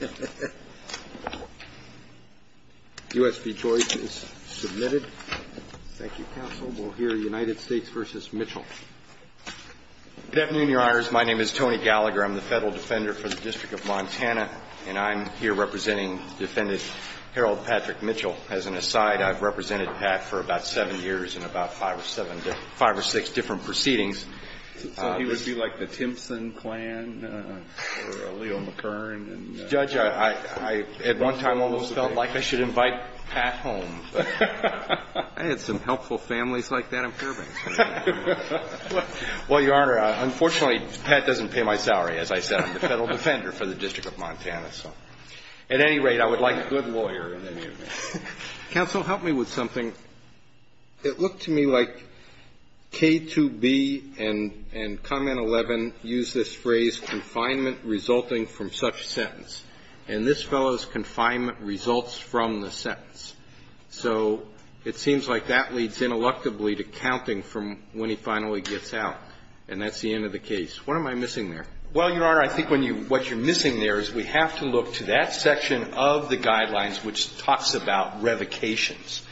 Good afternoon, your honors. My name is Tony Gallagher. I'm the Federal Defender for the District of Montana, and I'm here representing Defendant Harold Patrick Mitchell. As an aside, I've represented Pat for about seven years in about five or six different proceedings. So he would be like the Timpson clan or Leo McCurran. Judge, I at one time almost felt like I should invite Pat home. I had some helpful families like that in Fairbanks. Well, your honor, unfortunately, Pat doesn't pay my salary. As I said, I'm the Federal Defender for the District of Montana. So at any rate, I would like a good lawyer in any event. Counsel, help me with something. It looked to me like K2B and Comment 11 used this phrase, confinement resulting from such sentence. And this fellow's confinement results from the sentence. So it seems like that leads ineluctably to counting from when he finally gets out. And that's the end of the case. What am I missing there? Well, your honor, I think what you're missing there is we have to look to that section of the guidelines which talks about revocations.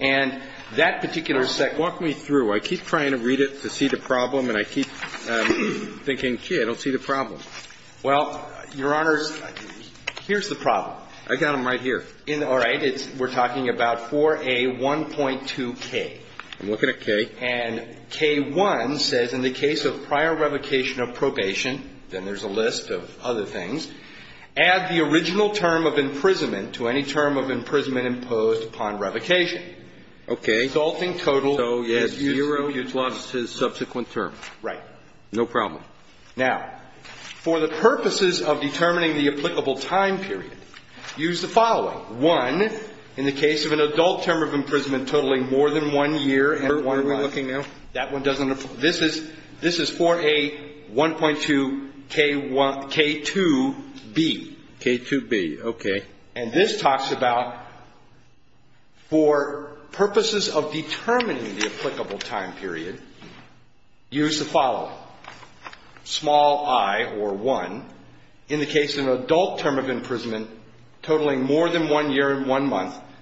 And that particular section Walk me through. I keep trying to read it to see the problem, and I keep thinking, gee, I don't see the problem. Well, your honors, here's the problem. I got them right here. All right. We're talking about 4A1.2K. I'm looking at K. And K1 says in the case of prior revocation of probation, then there's a list of other things, add the original term of imprisonment to any term of imprisonment imposed upon revocation. Okay. Resulting total is zero. So he has zero plus his subsequent term. Right. No problem. Now, for the purposes of determining the applicable time period, use the following. One, in the case of an adult term of imprisonment totaling more than one year, and one month,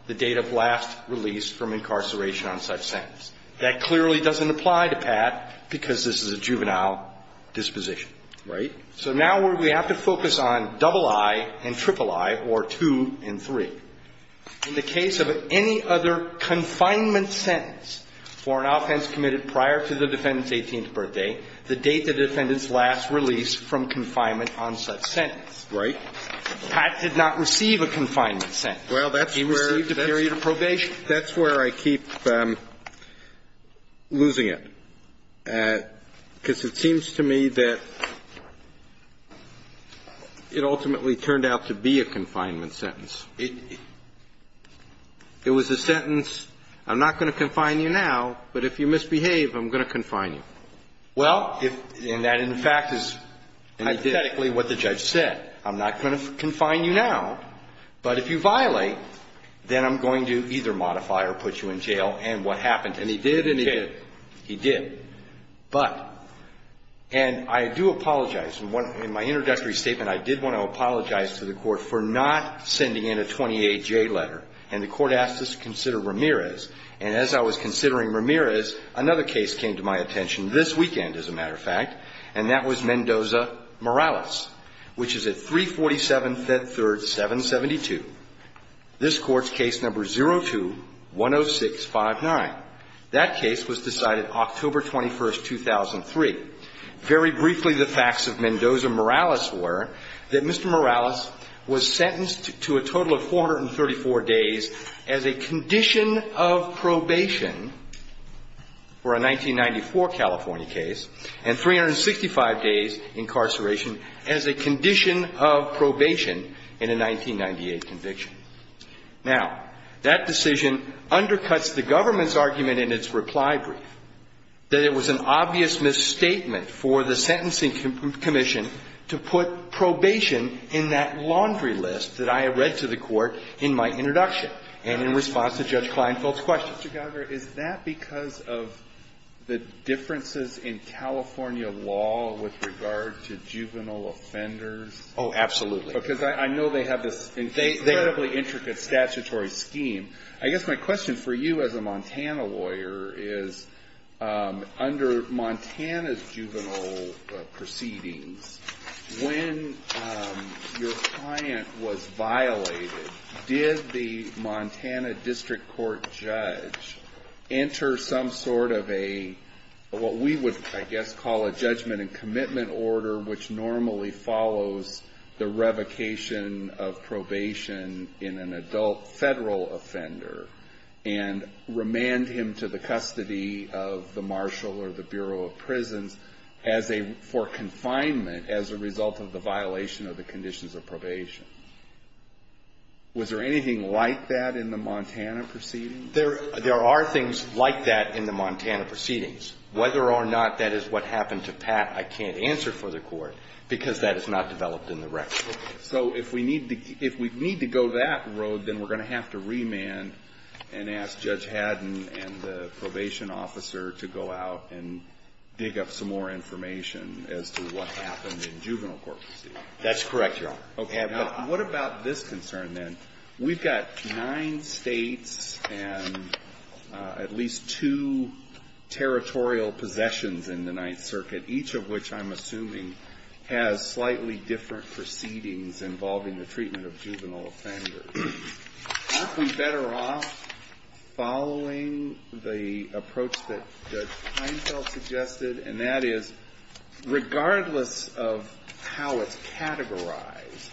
the date of last release from incarceration on such sentence. That clearly doesn't apply to Pat because this is a juvenile disposition. Right. So now we have to focus on double I and triple I, or two and three. In the case of any other confinement sentence for an offense committed prior to the defendant's 18th birthday, the date the defendant's last release from confinement on such sentence. Right. Pat did not receive a confinement sentence. He received a period of probation. I think that's where I keep losing it. Because it seems to me that it ultimately turned out to be a confinement sentence. It was a sentence, I'm not going to confine you now, but if you misbehave, I'm going to confine you. Well, and that, in fact, is hypothetically what the judge said. I'm not going to confine you now, but if you violate, then I'm going to either modify or put you in jail. And what happened? And he did and he did. He did. But, and I do apologize. In my introductory statement, I did want to apologize to the court for not sending in a 28J letter. And the court asked us to consider Ramirez. And as I was considering Ramirez, another case came to my attention this weekend, as a matter of fact. And that was Mendoza-Morales, which is at 347 Fed Third 772. This court's case number is 02-10659. That case was decided October 21, 2003. Very briefly, the facts of Mendoza-Morales were that Mr. Morales was sentenced to a total of 434 days as a condition of probation for a 1994 California case. And 365 days incarceration as a condition of probation in a 1998 conviction. Now, that decision undercuts the government's argument in its reply brief, that it was an obvious misstatement for the sentencing commission to put probation in that laundry list that I had read to the court in my introduction. And in response to Judge Kleinfeld's question. Mr. Gallagher, is that because of the differences in California law with regard to juvenile offenders? Oh, absolutely. Because I know they have this incredibly intricate statutory scheme. I guess my question for you as a Montana lawyer is, under Montana's juvenile proceedings, when your client was violated, did the Montana district court judge enter some sort of a, what we would, I guess, call a judgment and commitment order, which normally follows the revocation of probation in an adult federal offender and remand him to the custody of the marshal or the Bureau of Prisons for confinement as a result of the violation of the conditions of probation? Was there anything like that in the Montana proceedings? There are things like that in the Montana proceedings. Whether or not that is what happened to Pat, I can't answer for the Court, because that is not developed in the record. Okay. So if we need to go that road, then we're going to have to remand and ask Judge Haddon and the probation officer to go out and dig up some more information as to what happened in juvenile court proceedings. That's correct, Your Honor. Okay. But what about this concern, then? We've got nine States and at least two territorial possessions in the Ninth Circuit, each of which I'm assuming has slightly different proceedings involving the treatment of juvenile offenders. Aren't we better off following the approach that Judge Kleinfeld suggested? And that is, regardless of how it's categorized,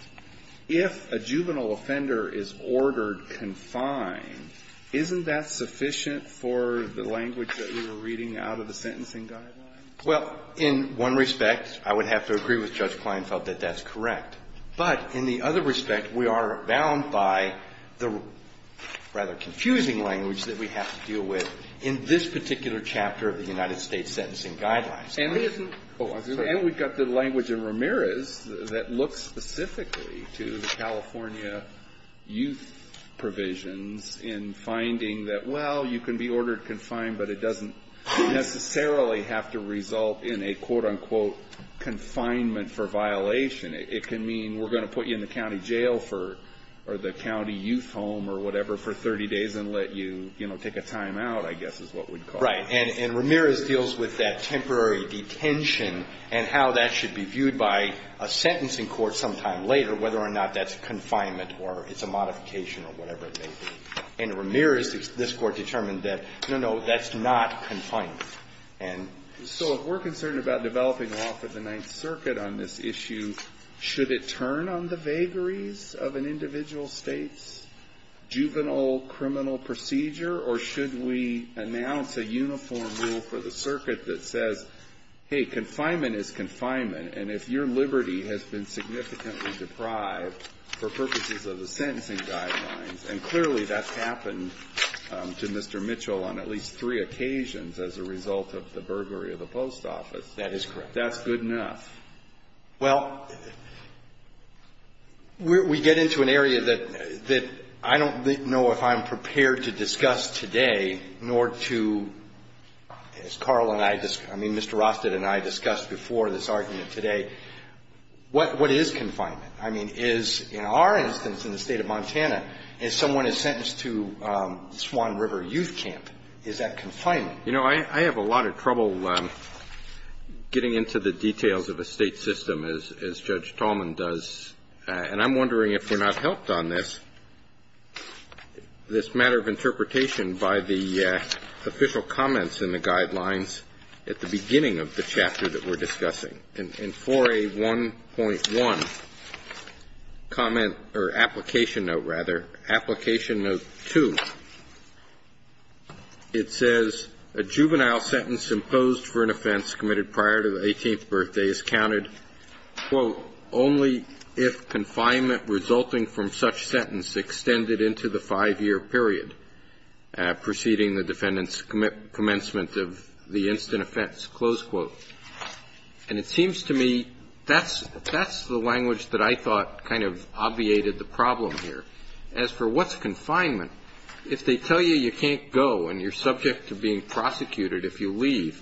if a juvenile offender is ordered confined, isn't that sufficient for the language that we were reading out of the sentencing guidelines? Well, in one respect, I would have to agree with Judge Kleinfeld that that's correct. But in the other respect, we are bound by the rather confusing language that we have to deal with in this particular chapter of the United States Sentencing Guidelines. And we've got the language in Ramirez that looks specifically to the California youth provisions in finding that, well, you can be ordered confined, but it doesn't necessarily have to result in a, quote, unquote, confinement for violation. It can mean we're going to put you in the county jail for the county youth home or whatever for 30 days and let you, you know, take a timeout, I guess is what we'd call it. Right. And Ramirez deals with that temporary detention and how that should be viewed by a sentencing court sometime later, whether or not that's confinement or it's a modification or whatever it may be. And Ramirez, this Court determined that, no, no, that's not confinement. And so if we're concerned about developing law for the Ninth Circuit on this issue, should it turn on the vagaries of an individual state's juvenile criminal procedure? Or should we announce a uniform rule for the circuit that says, hey, confinement is confinement. And if your liberty has been significantly deprived for purposes of the sentencing guidelines. And clearly that's happened to Mr. Mitchell on at least three occasions as a result of the burglary of the post office. That is correct. That's good enough. Well, we get into an area that I don't know if I'm prepared to discuss today, nor to, as Carl and I, I mean, Mr. Rosted and I discussed before this argument today. What is confinement? I mean, is, in our instance in the State of Montana, if someone is sentenced to Swan River Youth Camp, is that confinement? You know, I have a lot of trouble getting into the details of a State system, as Judge Tallman does. And I'm wondering if you're not helped on this, this matter of interpretation by the official comments in the guidelines at the beginning of the chapter that we're discussing. In 4A1.1, comment or application note, rather, application note 2, it says, a juvenile sentence imposed for an offense committed prior to the 18th birthday is counted, quote, only if confinement resulting from such sentence extended into the five-year period preceding the defendant's commencement of the instant offense, close quote. And it seems to me that's the language that I thought kind of obviated the problem here. As for what's confinement, if they tell you you can't go and you're subject to being prosecuted if you leave,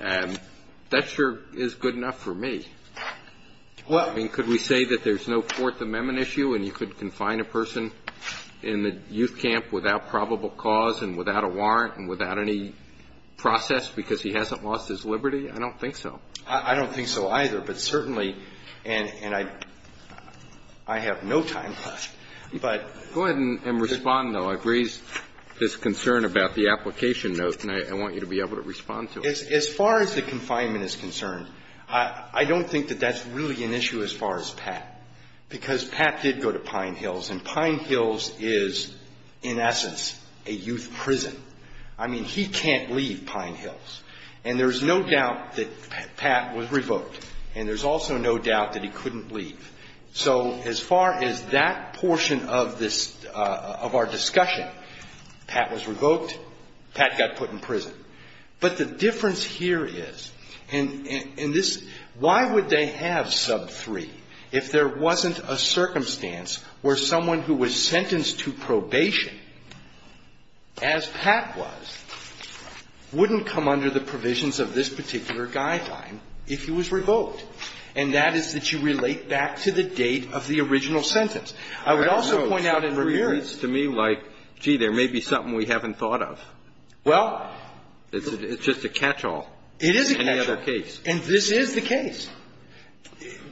that sure is good enough for me. I mean, could we say that there's no Fourth Amendment issue and you could confine a person in the youth camp without probable cause and without a warrant and without any process because he hasn't lost his liberty? I don't think so. I don't think so, either. But certainly, and I have no time left. Go ahead and respond, though. I've raised this concern about the application note, and I want you to be able to respond to it. As far as the confinement is concerned, I don't think that that's really an issue as far as Pat. Because Pat did go to Pine Hills, and Pine Hills is, in essence, a youth prison. I mean, he can't leave Pine Hills. And there's no doubt that Pat was revoked, and there's also no doubt that he couldn't leave. So as far as that portion of this, of our discussion, Pat was revoked, Pat got put in prison. But the difference here is, and this why would they have sub 3 if there wasn't a circumstance where someone who was sentenced to probation, as Pat was, wouldn't come under the provisions of this particular guideline if he was revoked. And that is that you relate back to the date of the original sentence. I would also point out in Ramirez to me like, gee, there may be something we haven't thought of. Well. It's just a catch-all. It is a catch-all. In the other case. And this is the case.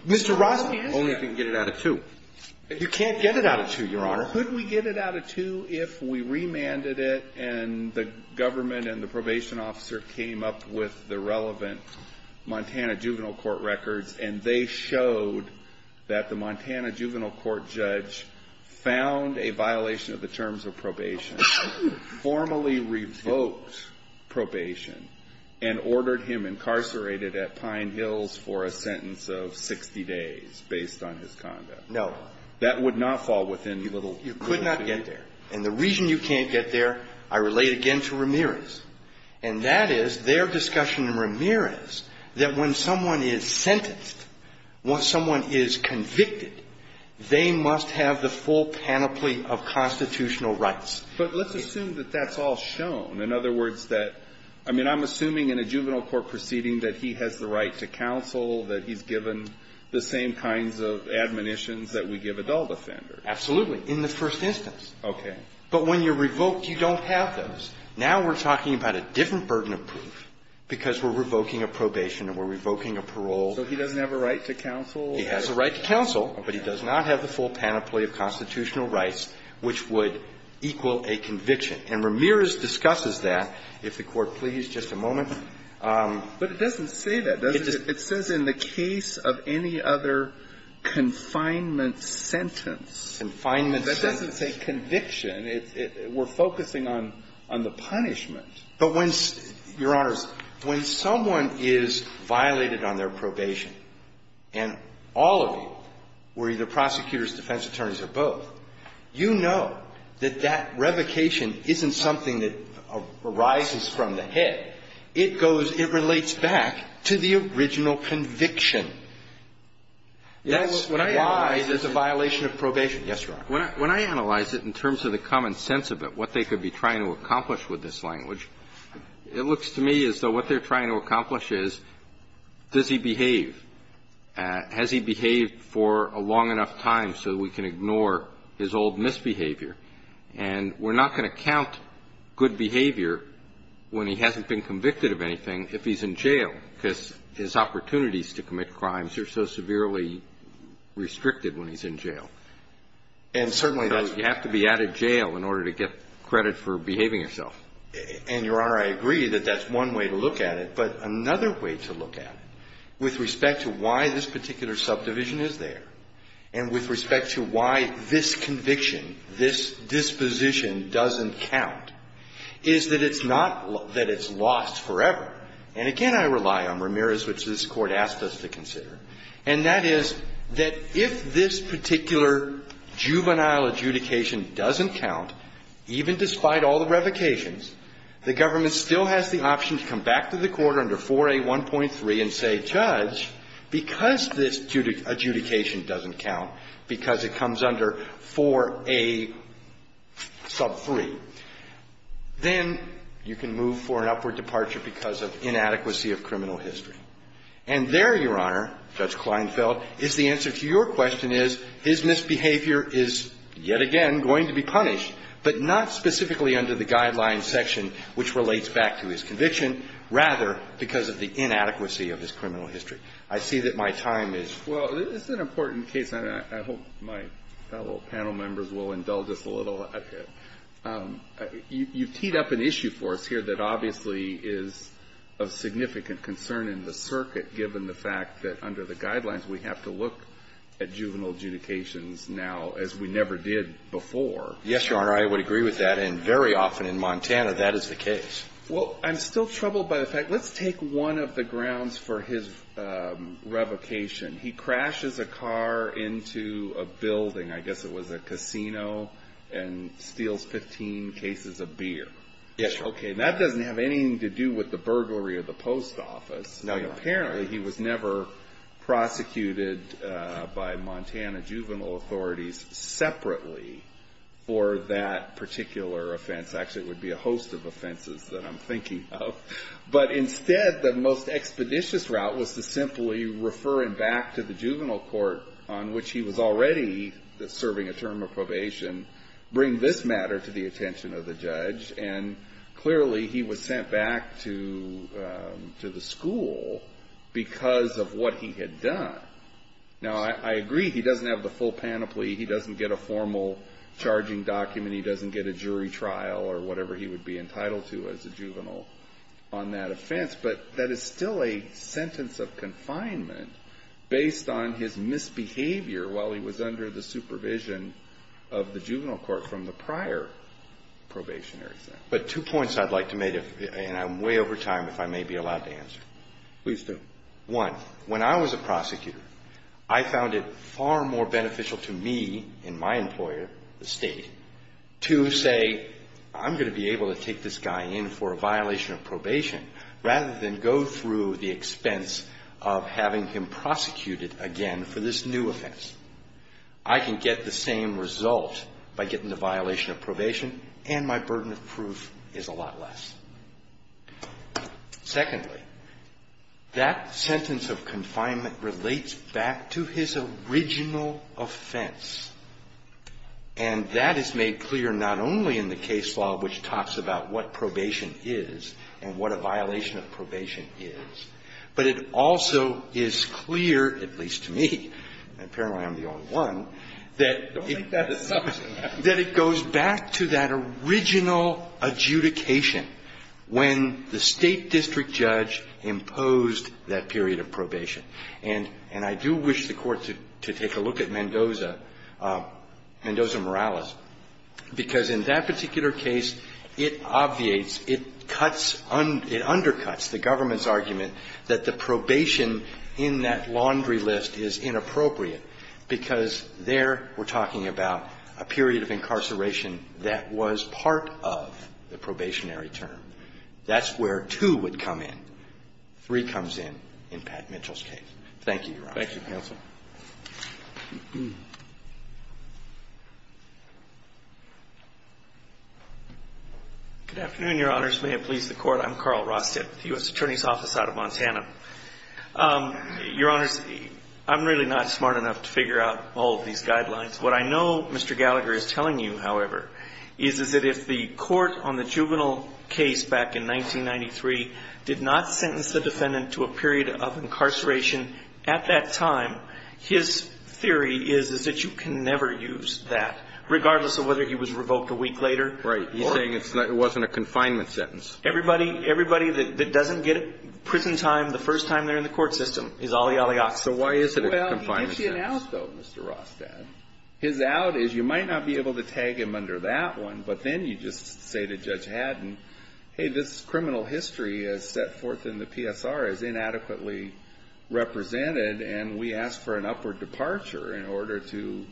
Mr. Rosby is. Only if we can get it out of 2. You can't get it out of 2, Your Honor. Could we get it out of 2 if we remanded it, and the government and the probation officer came up with the relevant Montana juvenile court records, and they showed that the Montana juvenile court judge found a violation of the terms of probation and formally revoked probation and ordered him incarcerated at Pine Hills for a sentence of 60 days based on his conduct. No. That would not fall within the little. You could not get there. And the reason you can't get there, I relate again to Ramirez. And that is their discussion in Ramirez that when someone is sentenced, when someone is convicted, they must have the full panoply of constitutional rights. But let's assume that that's all shown. In other words, that – I mean, I'm assuming in a juvenile court proceeding that he has the right to counsel, that he's given the same kinds of admonitions that we give adult offenders. Absolutely. In the first instance. Okay. But when you're revoked, you don't have those. Now we're talking about a different burden of proof because we're revoking a probation and we're revoking a parole. So he doesn't have a right to counsel? He has the right to counsel, but he does not have the full panoply of constitutional rights which would equal a conviction. And Ramirez discusses that. If the Court please, just a moment. But it doesn't say that, does it? It says in the case of any other confinement sentence. Confinement sentence. That doesn't say conviction. We're focusing on the punishment. But when – Your Honors, when someone is violated on their probation, and all of you, we're either prosecutors, defense attorneys, or both, you know that that revocation isn't something that arises from the hit. It goes – it relates back to the original conviction. That's why there's a violation of probation. Yes, Your Honor. When I analyze it in terms of the common sense of it, what they could be trying to accomplish with this language, it looks to me as though what they're trying to accomplish is, does he behave? Has he behaved for a long enough time so that we can ignore his old misbehavior? And we're not going to count good behavior when he hasn't been convicted of anything if he's in jail, because his opportunities to commit crimes are so severely restricted when he's in jail. And certainly, though, you have to be at a jail in order to get credit for behaving yourself. And, Your Honor, I agree that that's one way to look at it. But another way to look at it with respect to why this particular subdivision is there and with respect to why this conviction, this disposition doesn't count is that it's not – that it's lost forever. And, again, I rely on Ramirez, which this Court asked us to consider, and that is that if this particular juvenile adjudication doesn't count, even despite all the revocations, the government still has the option to come back to the Court under 4A1.3 and say, Judge, because this adjudication doesn't count, because it comes under 4A sub 3, then you can move for an upward departure because of inadequacy of criminal history. And there, Your Honor, Judge Kleinfeld, is the answer to your question is, his misbehavior is yet again going to be punished, but not specifically under the guidelines of the section which relates back to his conviction, rather because of the inadequacy of his criminal history. I see that my time is – Well, it's an important case, and I hope my fellow panel members will indulge us a little. You've teed up an issue for us here that obviously is of significant concern in the circuit, given the fact that under the guidelines, we have to look at juvenile adjudications now as we never did before. Yes, Your Honor. I would agree with that. And very often in Montana, that is the case. Well, I'm still troubled by the fact – let's take one of the grounds for his revocation. He crashes a car into a building, I guess it was a casino, and steals 15 cases of beer. Yes, Your Honor. Okay. And that doesn't have anything to do with the burglary of the post office. No, Your Honor. And clearly, he was never prosecuted by Montana juvenile authorities separately for that particular offense. Actually, it would be a host of offenses that I'm thinking of. But instead, the most expeditious route was to simply refer him back to the juvenile court on which he was already serving a term of probation, bring this matter to the attention of the judge. And clearly, he was sent back to the school because of what he had done. Now, I agree he doesn't have the full panoply. He doesn't get a formal charging document. He doesn't get a jury trial or whatever he would be entitled to as a juvenile on that offense. But that is still a sentence of confinement based on his misbehavior while he was under the supervision of the juvenile court from the prior probationary sentence. But two points I'd like to make, and I'm way over time if I may be allowed to answer. Please do. One, when I was a prosecutor, I found it far more beneficial to me and my employer, the State, to say I'm going to be able to take this guy in for a violation of probation rather than go through the expense of having him prosecuted again for this new offense. I can get the same result by getting the violation of probation and my burden of proof is a lot less. Secondly, that sentence of confinement relates back to his original offense. And that is made clear not only in the case law, which talks about what probation is and what a violation of probation is, but it also is clear, at least to me, and apparently I am the only one, that it goes back to that original adjudication when the State district judge imposed that period of probation. And I do wish the Court to take a look at Mendoza, Mendoza Morales, because in that particular case, it obviates, it cuts, it undercuts the government's argument that the probation in that laundry list is inappropriate because there we're talking about a period of incarceration that was part of the probationary term. That's where 2 would come in. 3 comes in in Pat Mitchell's case. Thank you, Your Honor. Thank you, counsel. Good afternoon, Your Honors. May it please the Court. I'm Carl Rostet with the U.S. Attorney's Office out of Montana. Your Honors, I'm really not smart enough to figure out all of these guidelines. What I know Mr. Gallagher is telling you, however, is that if the court on the juvenile case back in 1993 did not sentence the defendant to a period of incarceration at that time, his theory is that you can never use that, regardless of whether he was revoked a week later. He's saying it wasn't a confinement sentence. Everybody that doesn't get prison time the first time they're in the court system is olly olly ox. So why is it a confinement sentence? Well, he did see an out, though, Mr. Rostad. His out is you might not be able to tag him under that one, but then you just say to Judge Haddon, hey, this criminal history is set forth in the PSR as inadequately represented, and we ask for an upward departure in order to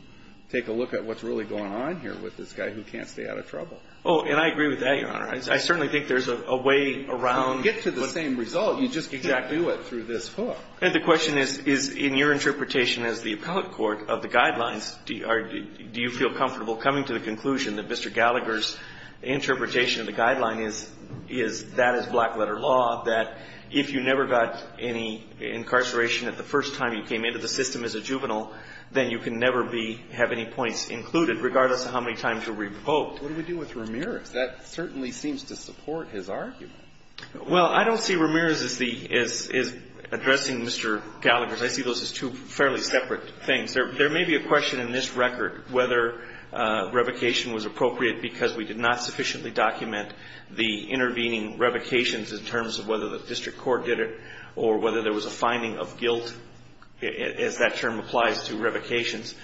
take a look at what's really going on here with this guy who can't stay out of trouble. Oh, and I agree with that, Your Honor. I certainly think there's a way around what's going on. You don't get to the same result. You just exactly do it through this book. And the question is, in your interpretation as the appellate court of the Guidelines, do you feel comfortable coming to the conclusion that Mr. Gallagher's interpretation of the Guideline is that is black-letter law, that if you never got any incarceration at the first time you came into the system as a juvenile, then you can never be, have any points included, regardless of how many times you're revoked. What do we do with Ramirez? That certainly seems to support his argument. Well, I don't see Ramirez as addressing Mr. Gallagher's. I see those as two fairly separate things. There may be a question in this record whether revocation was appropriate because we did not sufficiently document the intervening revocations in terms of whether the district court did it or whether there was a finding of guilt, as that term applies to revocations.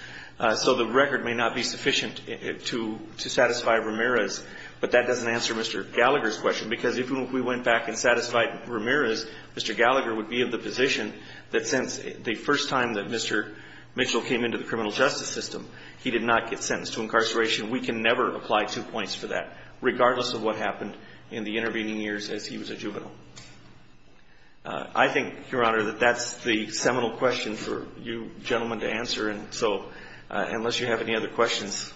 So the record may not be sufficient to satisfy Ramirez, but that doesn't answer Mr. Gallagher's question. Because if we went back and satisfied Ramirez, Mr. Gallagher would be in the position that since the first time that Mr. Mitchell came into the criminal justice system, he did not get sentenced to incarceration. We can never apply two points for that, regardless of what happened in the intervening years as he was a juvenile. I think, Your Honor, that that's the seminal question for you gentlemen to answer. And so unless you have any other questions.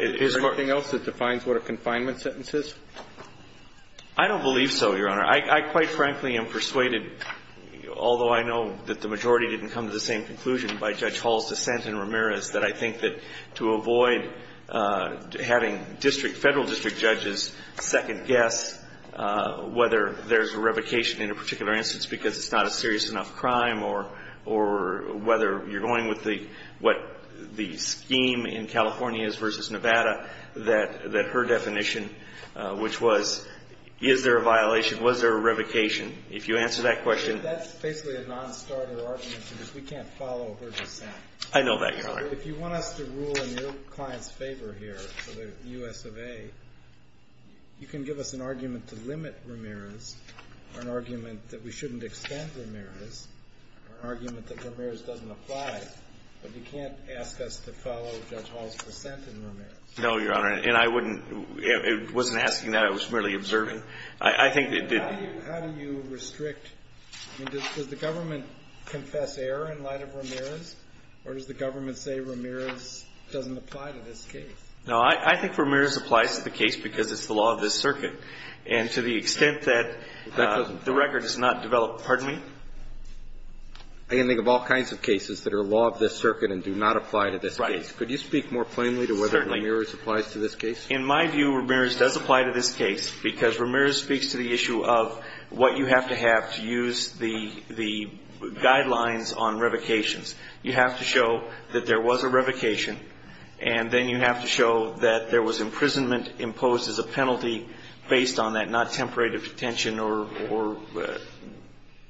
Is there anything else that defines what a confinement sentence is? I don't believe so, Your Honor. I quite frankly am persuaded, although I know that the majority didn't come to the same conclusion by Judge Hall's dissent in Ramirez, that I think that to avoid having district, Federal district judges second-guess whether there's a revocation in a particular instance because it's not a serious enough crime or whether you're dealing with what the scheme in California is versus Nevada, that her definition, which was, is there a violation? Was there a revocation? If you answer that question. That's basically a non-starter argument because we can't follow her dissent. I know that, Your Honor. If you want us to rule in your client's favor here for the U.S. of A., you can give us an argument to limit Ramirez or an argument that we shouldn't extend Ramirez or an argument that Ramirez doesn't apply. But you can't ask us to follow Judge Hall's dissent in Ramirez. No, Your Honor. And I wouldn't. I wasn't asking that. I was merely observing. I think it did. How do you restrict? Does the government confess error in light of Ramirez or does the government say Ramirez doesn't apply to this case? No, I think Ramirez applies to the case because it's the law of this circuit. And to the extent that the record is not developed. Pardon me? I can think of all kinds of cases that are law of this circuit and do not apply to this case. Right. Could you speak more plainly to whether Ramirez applies to this case? In my view, Ramirez does apply to this case because Ramirez speaks to the issue of what you have to have to use the guidelines on revocations. You have to show that there was a revocation and then you have to show that there was imprisonment imposed as a penalty based on that not temporary detention or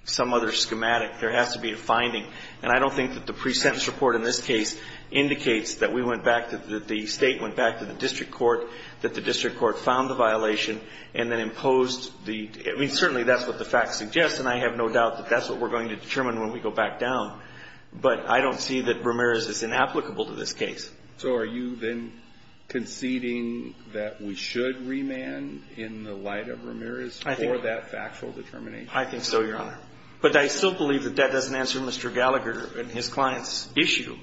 some other schematic. There has to be a finding. And I don't think that the pre-sentence report in this case indicates that we went back to the state, went back to the district court, that the district court found the violation and then imposed the – I mean, certainly that's what the facts suggest and I have no doubt that that's what we're going to determine when we go back down. But I don't see that Ramirez is inapplicable to this case. So are you then conceding that we should remand in the light of Ramirez for that factual determination? I think so, Your Honor. But I still believe that that doesn't answer Mr. Gallagher and his client's issue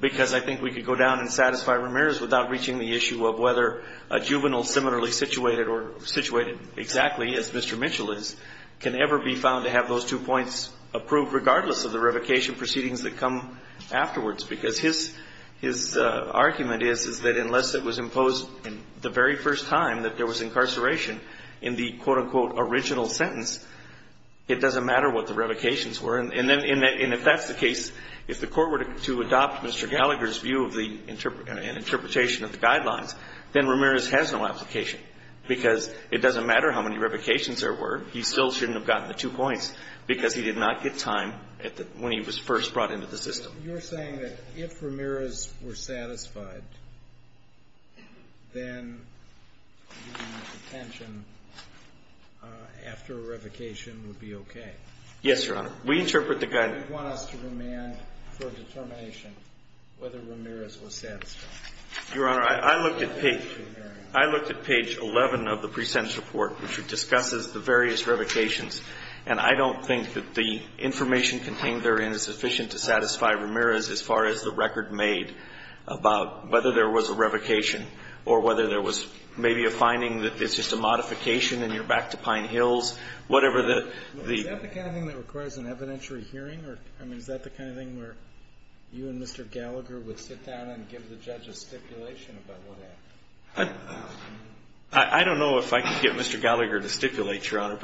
because I think we could go down and satisfy Ramirez without reaching the issue of whether a juvenile similarly situated or situated exactly as Mr. Mitchell is can ever be found to have those two points approved regardless of the revocation proceedings that come afterwards. Because his – his argument is, is that unless it was imposed the very first time that there was incarceration in the, quote, unquote, original sentence, it doesn't matter what the revocations were. And if that's the case, if the court were to adopt Mr. Gallagher's view of the interpretation of the guidelines, then Ramirez has no application because it doesn't matter how many revocations there were. He still shouldn't have gotten the two points because he did not get time when he was first brought into the system. So you're saying that if Ramirez were satisfied, then the detention after a revocation would be okay? Yes, Your Honor. We interpret the guidelines. Do you want us to remand for a determination whether Ramirez was satisfied? Your Honor, I looked at page 11 of the present report, which discusses the various revocations, and I don't think that the information contained therein is sufficient to satisfy Ramirez as far as the record made about whether there was a revocation or whether there was maybe a finding that it's just a modification and you're back to Pine Hills, whatever the – Is that the kind of thing that requires an evidentiary hearing? I mean, is that the kind of thing where you and Mr. Gallagher would sit down and give the judge a stipulation about what happened? I don't know if I can get Mr. Gallagher to stipulate, Your Honor,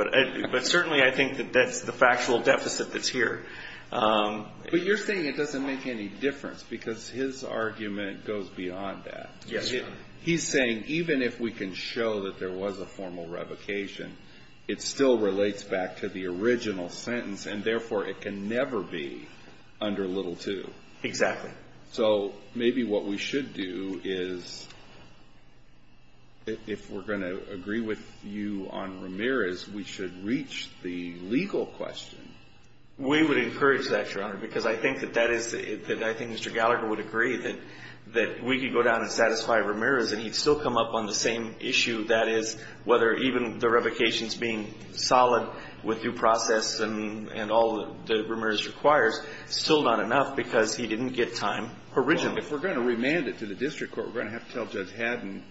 but certainly I think that that's the factual deficit that's here. But you're saying it doesn't make any difference because his argument goes beyond that. Yes, Your Honor. He's saying even if we can show that there was a formal revocation, it still relates back to the original sentence, and therefore it can never be under little two. Exactly. So maybe what we should do is, if we're going to agree with you on Ramirez, we should reach the legal question. We would encourage that, Your Honor, because I think that that is – that I think Mr. Gallagher would agree that we could go down and satisfy Ramirez and he'd still come up on the same issue, that is, whether even the revocation's being solid with due process and all that Ramirez requires, still not enough because he didn't get time originally. Well, if we're going to remand it to the district court, we're going to have to tell Judge Haddon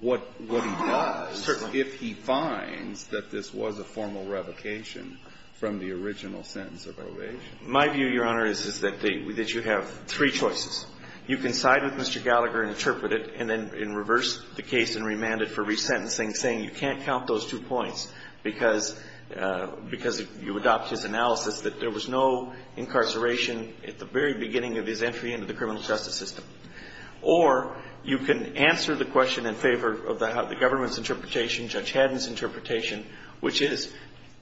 what he does. Certainly. So if he finds that this was a formal revocation from the original sentence of probation My view, Your Honor, is that you have three choices. You can side with Mr. Gallagher and interpret it and then reverse the case and remand it for resentencing, saying you can't count those two points because you adopt his analysis that there was no incarceration at the very beginning of his entry into the criminal justice system. Or you can answer the question in favor of the government's interpretation, Judge Haddon's interpretation, which is,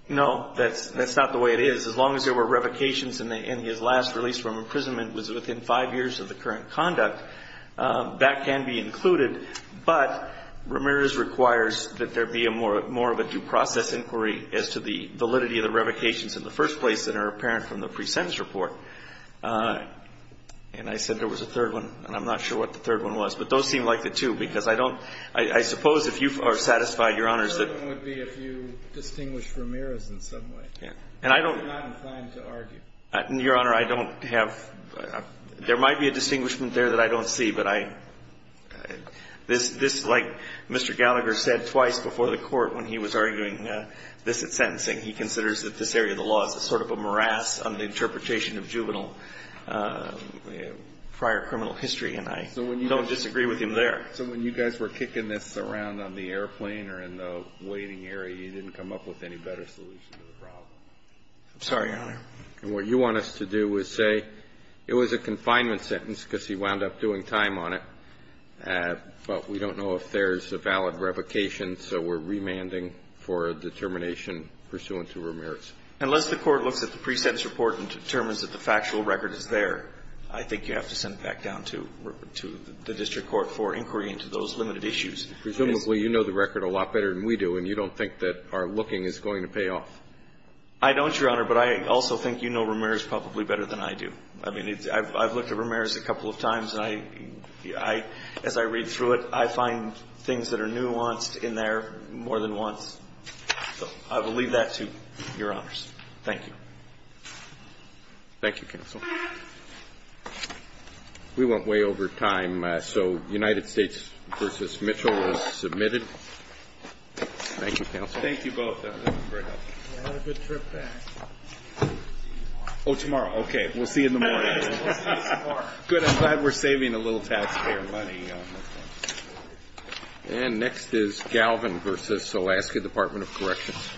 no, that's not the way it is. As long as there were revocations and his last release from imprisonment was within five years of the current conduct, that can be included. But Ramirez requires that there be more of a due process inquiry as to the validity of the revocations in the first place that are apparent from the pre-sentence report. And I said there was a third one, and I'm not sure what the third one was. But those seem like the two because I don't – I suppose if you are satisfied, Your Honors, that The third one would be if you distinguish Ramirez in some way. Yeah. And I don't He's not inclined to argue. Your Honor, I don't have – there might be a distinguishment there that I don't see, but I – this, like Mr. Gallagher said twice before the Court when he was arguing this at sentencing, he considers that this area of the law is a sort of a morass on the juvenile prior criminal history, and I don't disagree with him there. So when you guys were kicking this around on the airplane or in the waiting area, you didn't come up with any better solution to the problem? I'm sorry, Your Honor. And what you want us to do is say it was a confinement sentence because he wound up doing time on it, but we don't know if there's a valid revocation, so we're remanding for a determination pursuant to Ramirez. Unless the Court looks at the pre-sentence report and determines that the factual record is there, I think you have to send it back down to the district court for inquiry into those limited issues. Presumably you know the record a lot better than we do, and you don't think that our looking is going to pay off. I don't, Your Honor, but I also think you know Ramirez probably better than I do. I mean, I've looked at Ramirez a couple of times, and I – as I read through it, I find things that are nuanced in there more than once. I will leave that to Your Honors. Thank you. Thank you, Counsel. We went way over time, so United States v. Mitchell is submitted. Thank you, Counsel. Thank you both. That was very helpful. Have a good trip back. We'll see you tomorrow. Oh, tomorrow. Okay. We'll see you in the morning. We'll see you tomorrow. Good. I'm glad we're saving a little taxpayer money. And next is Galvin v. Alaska Department of Corrections.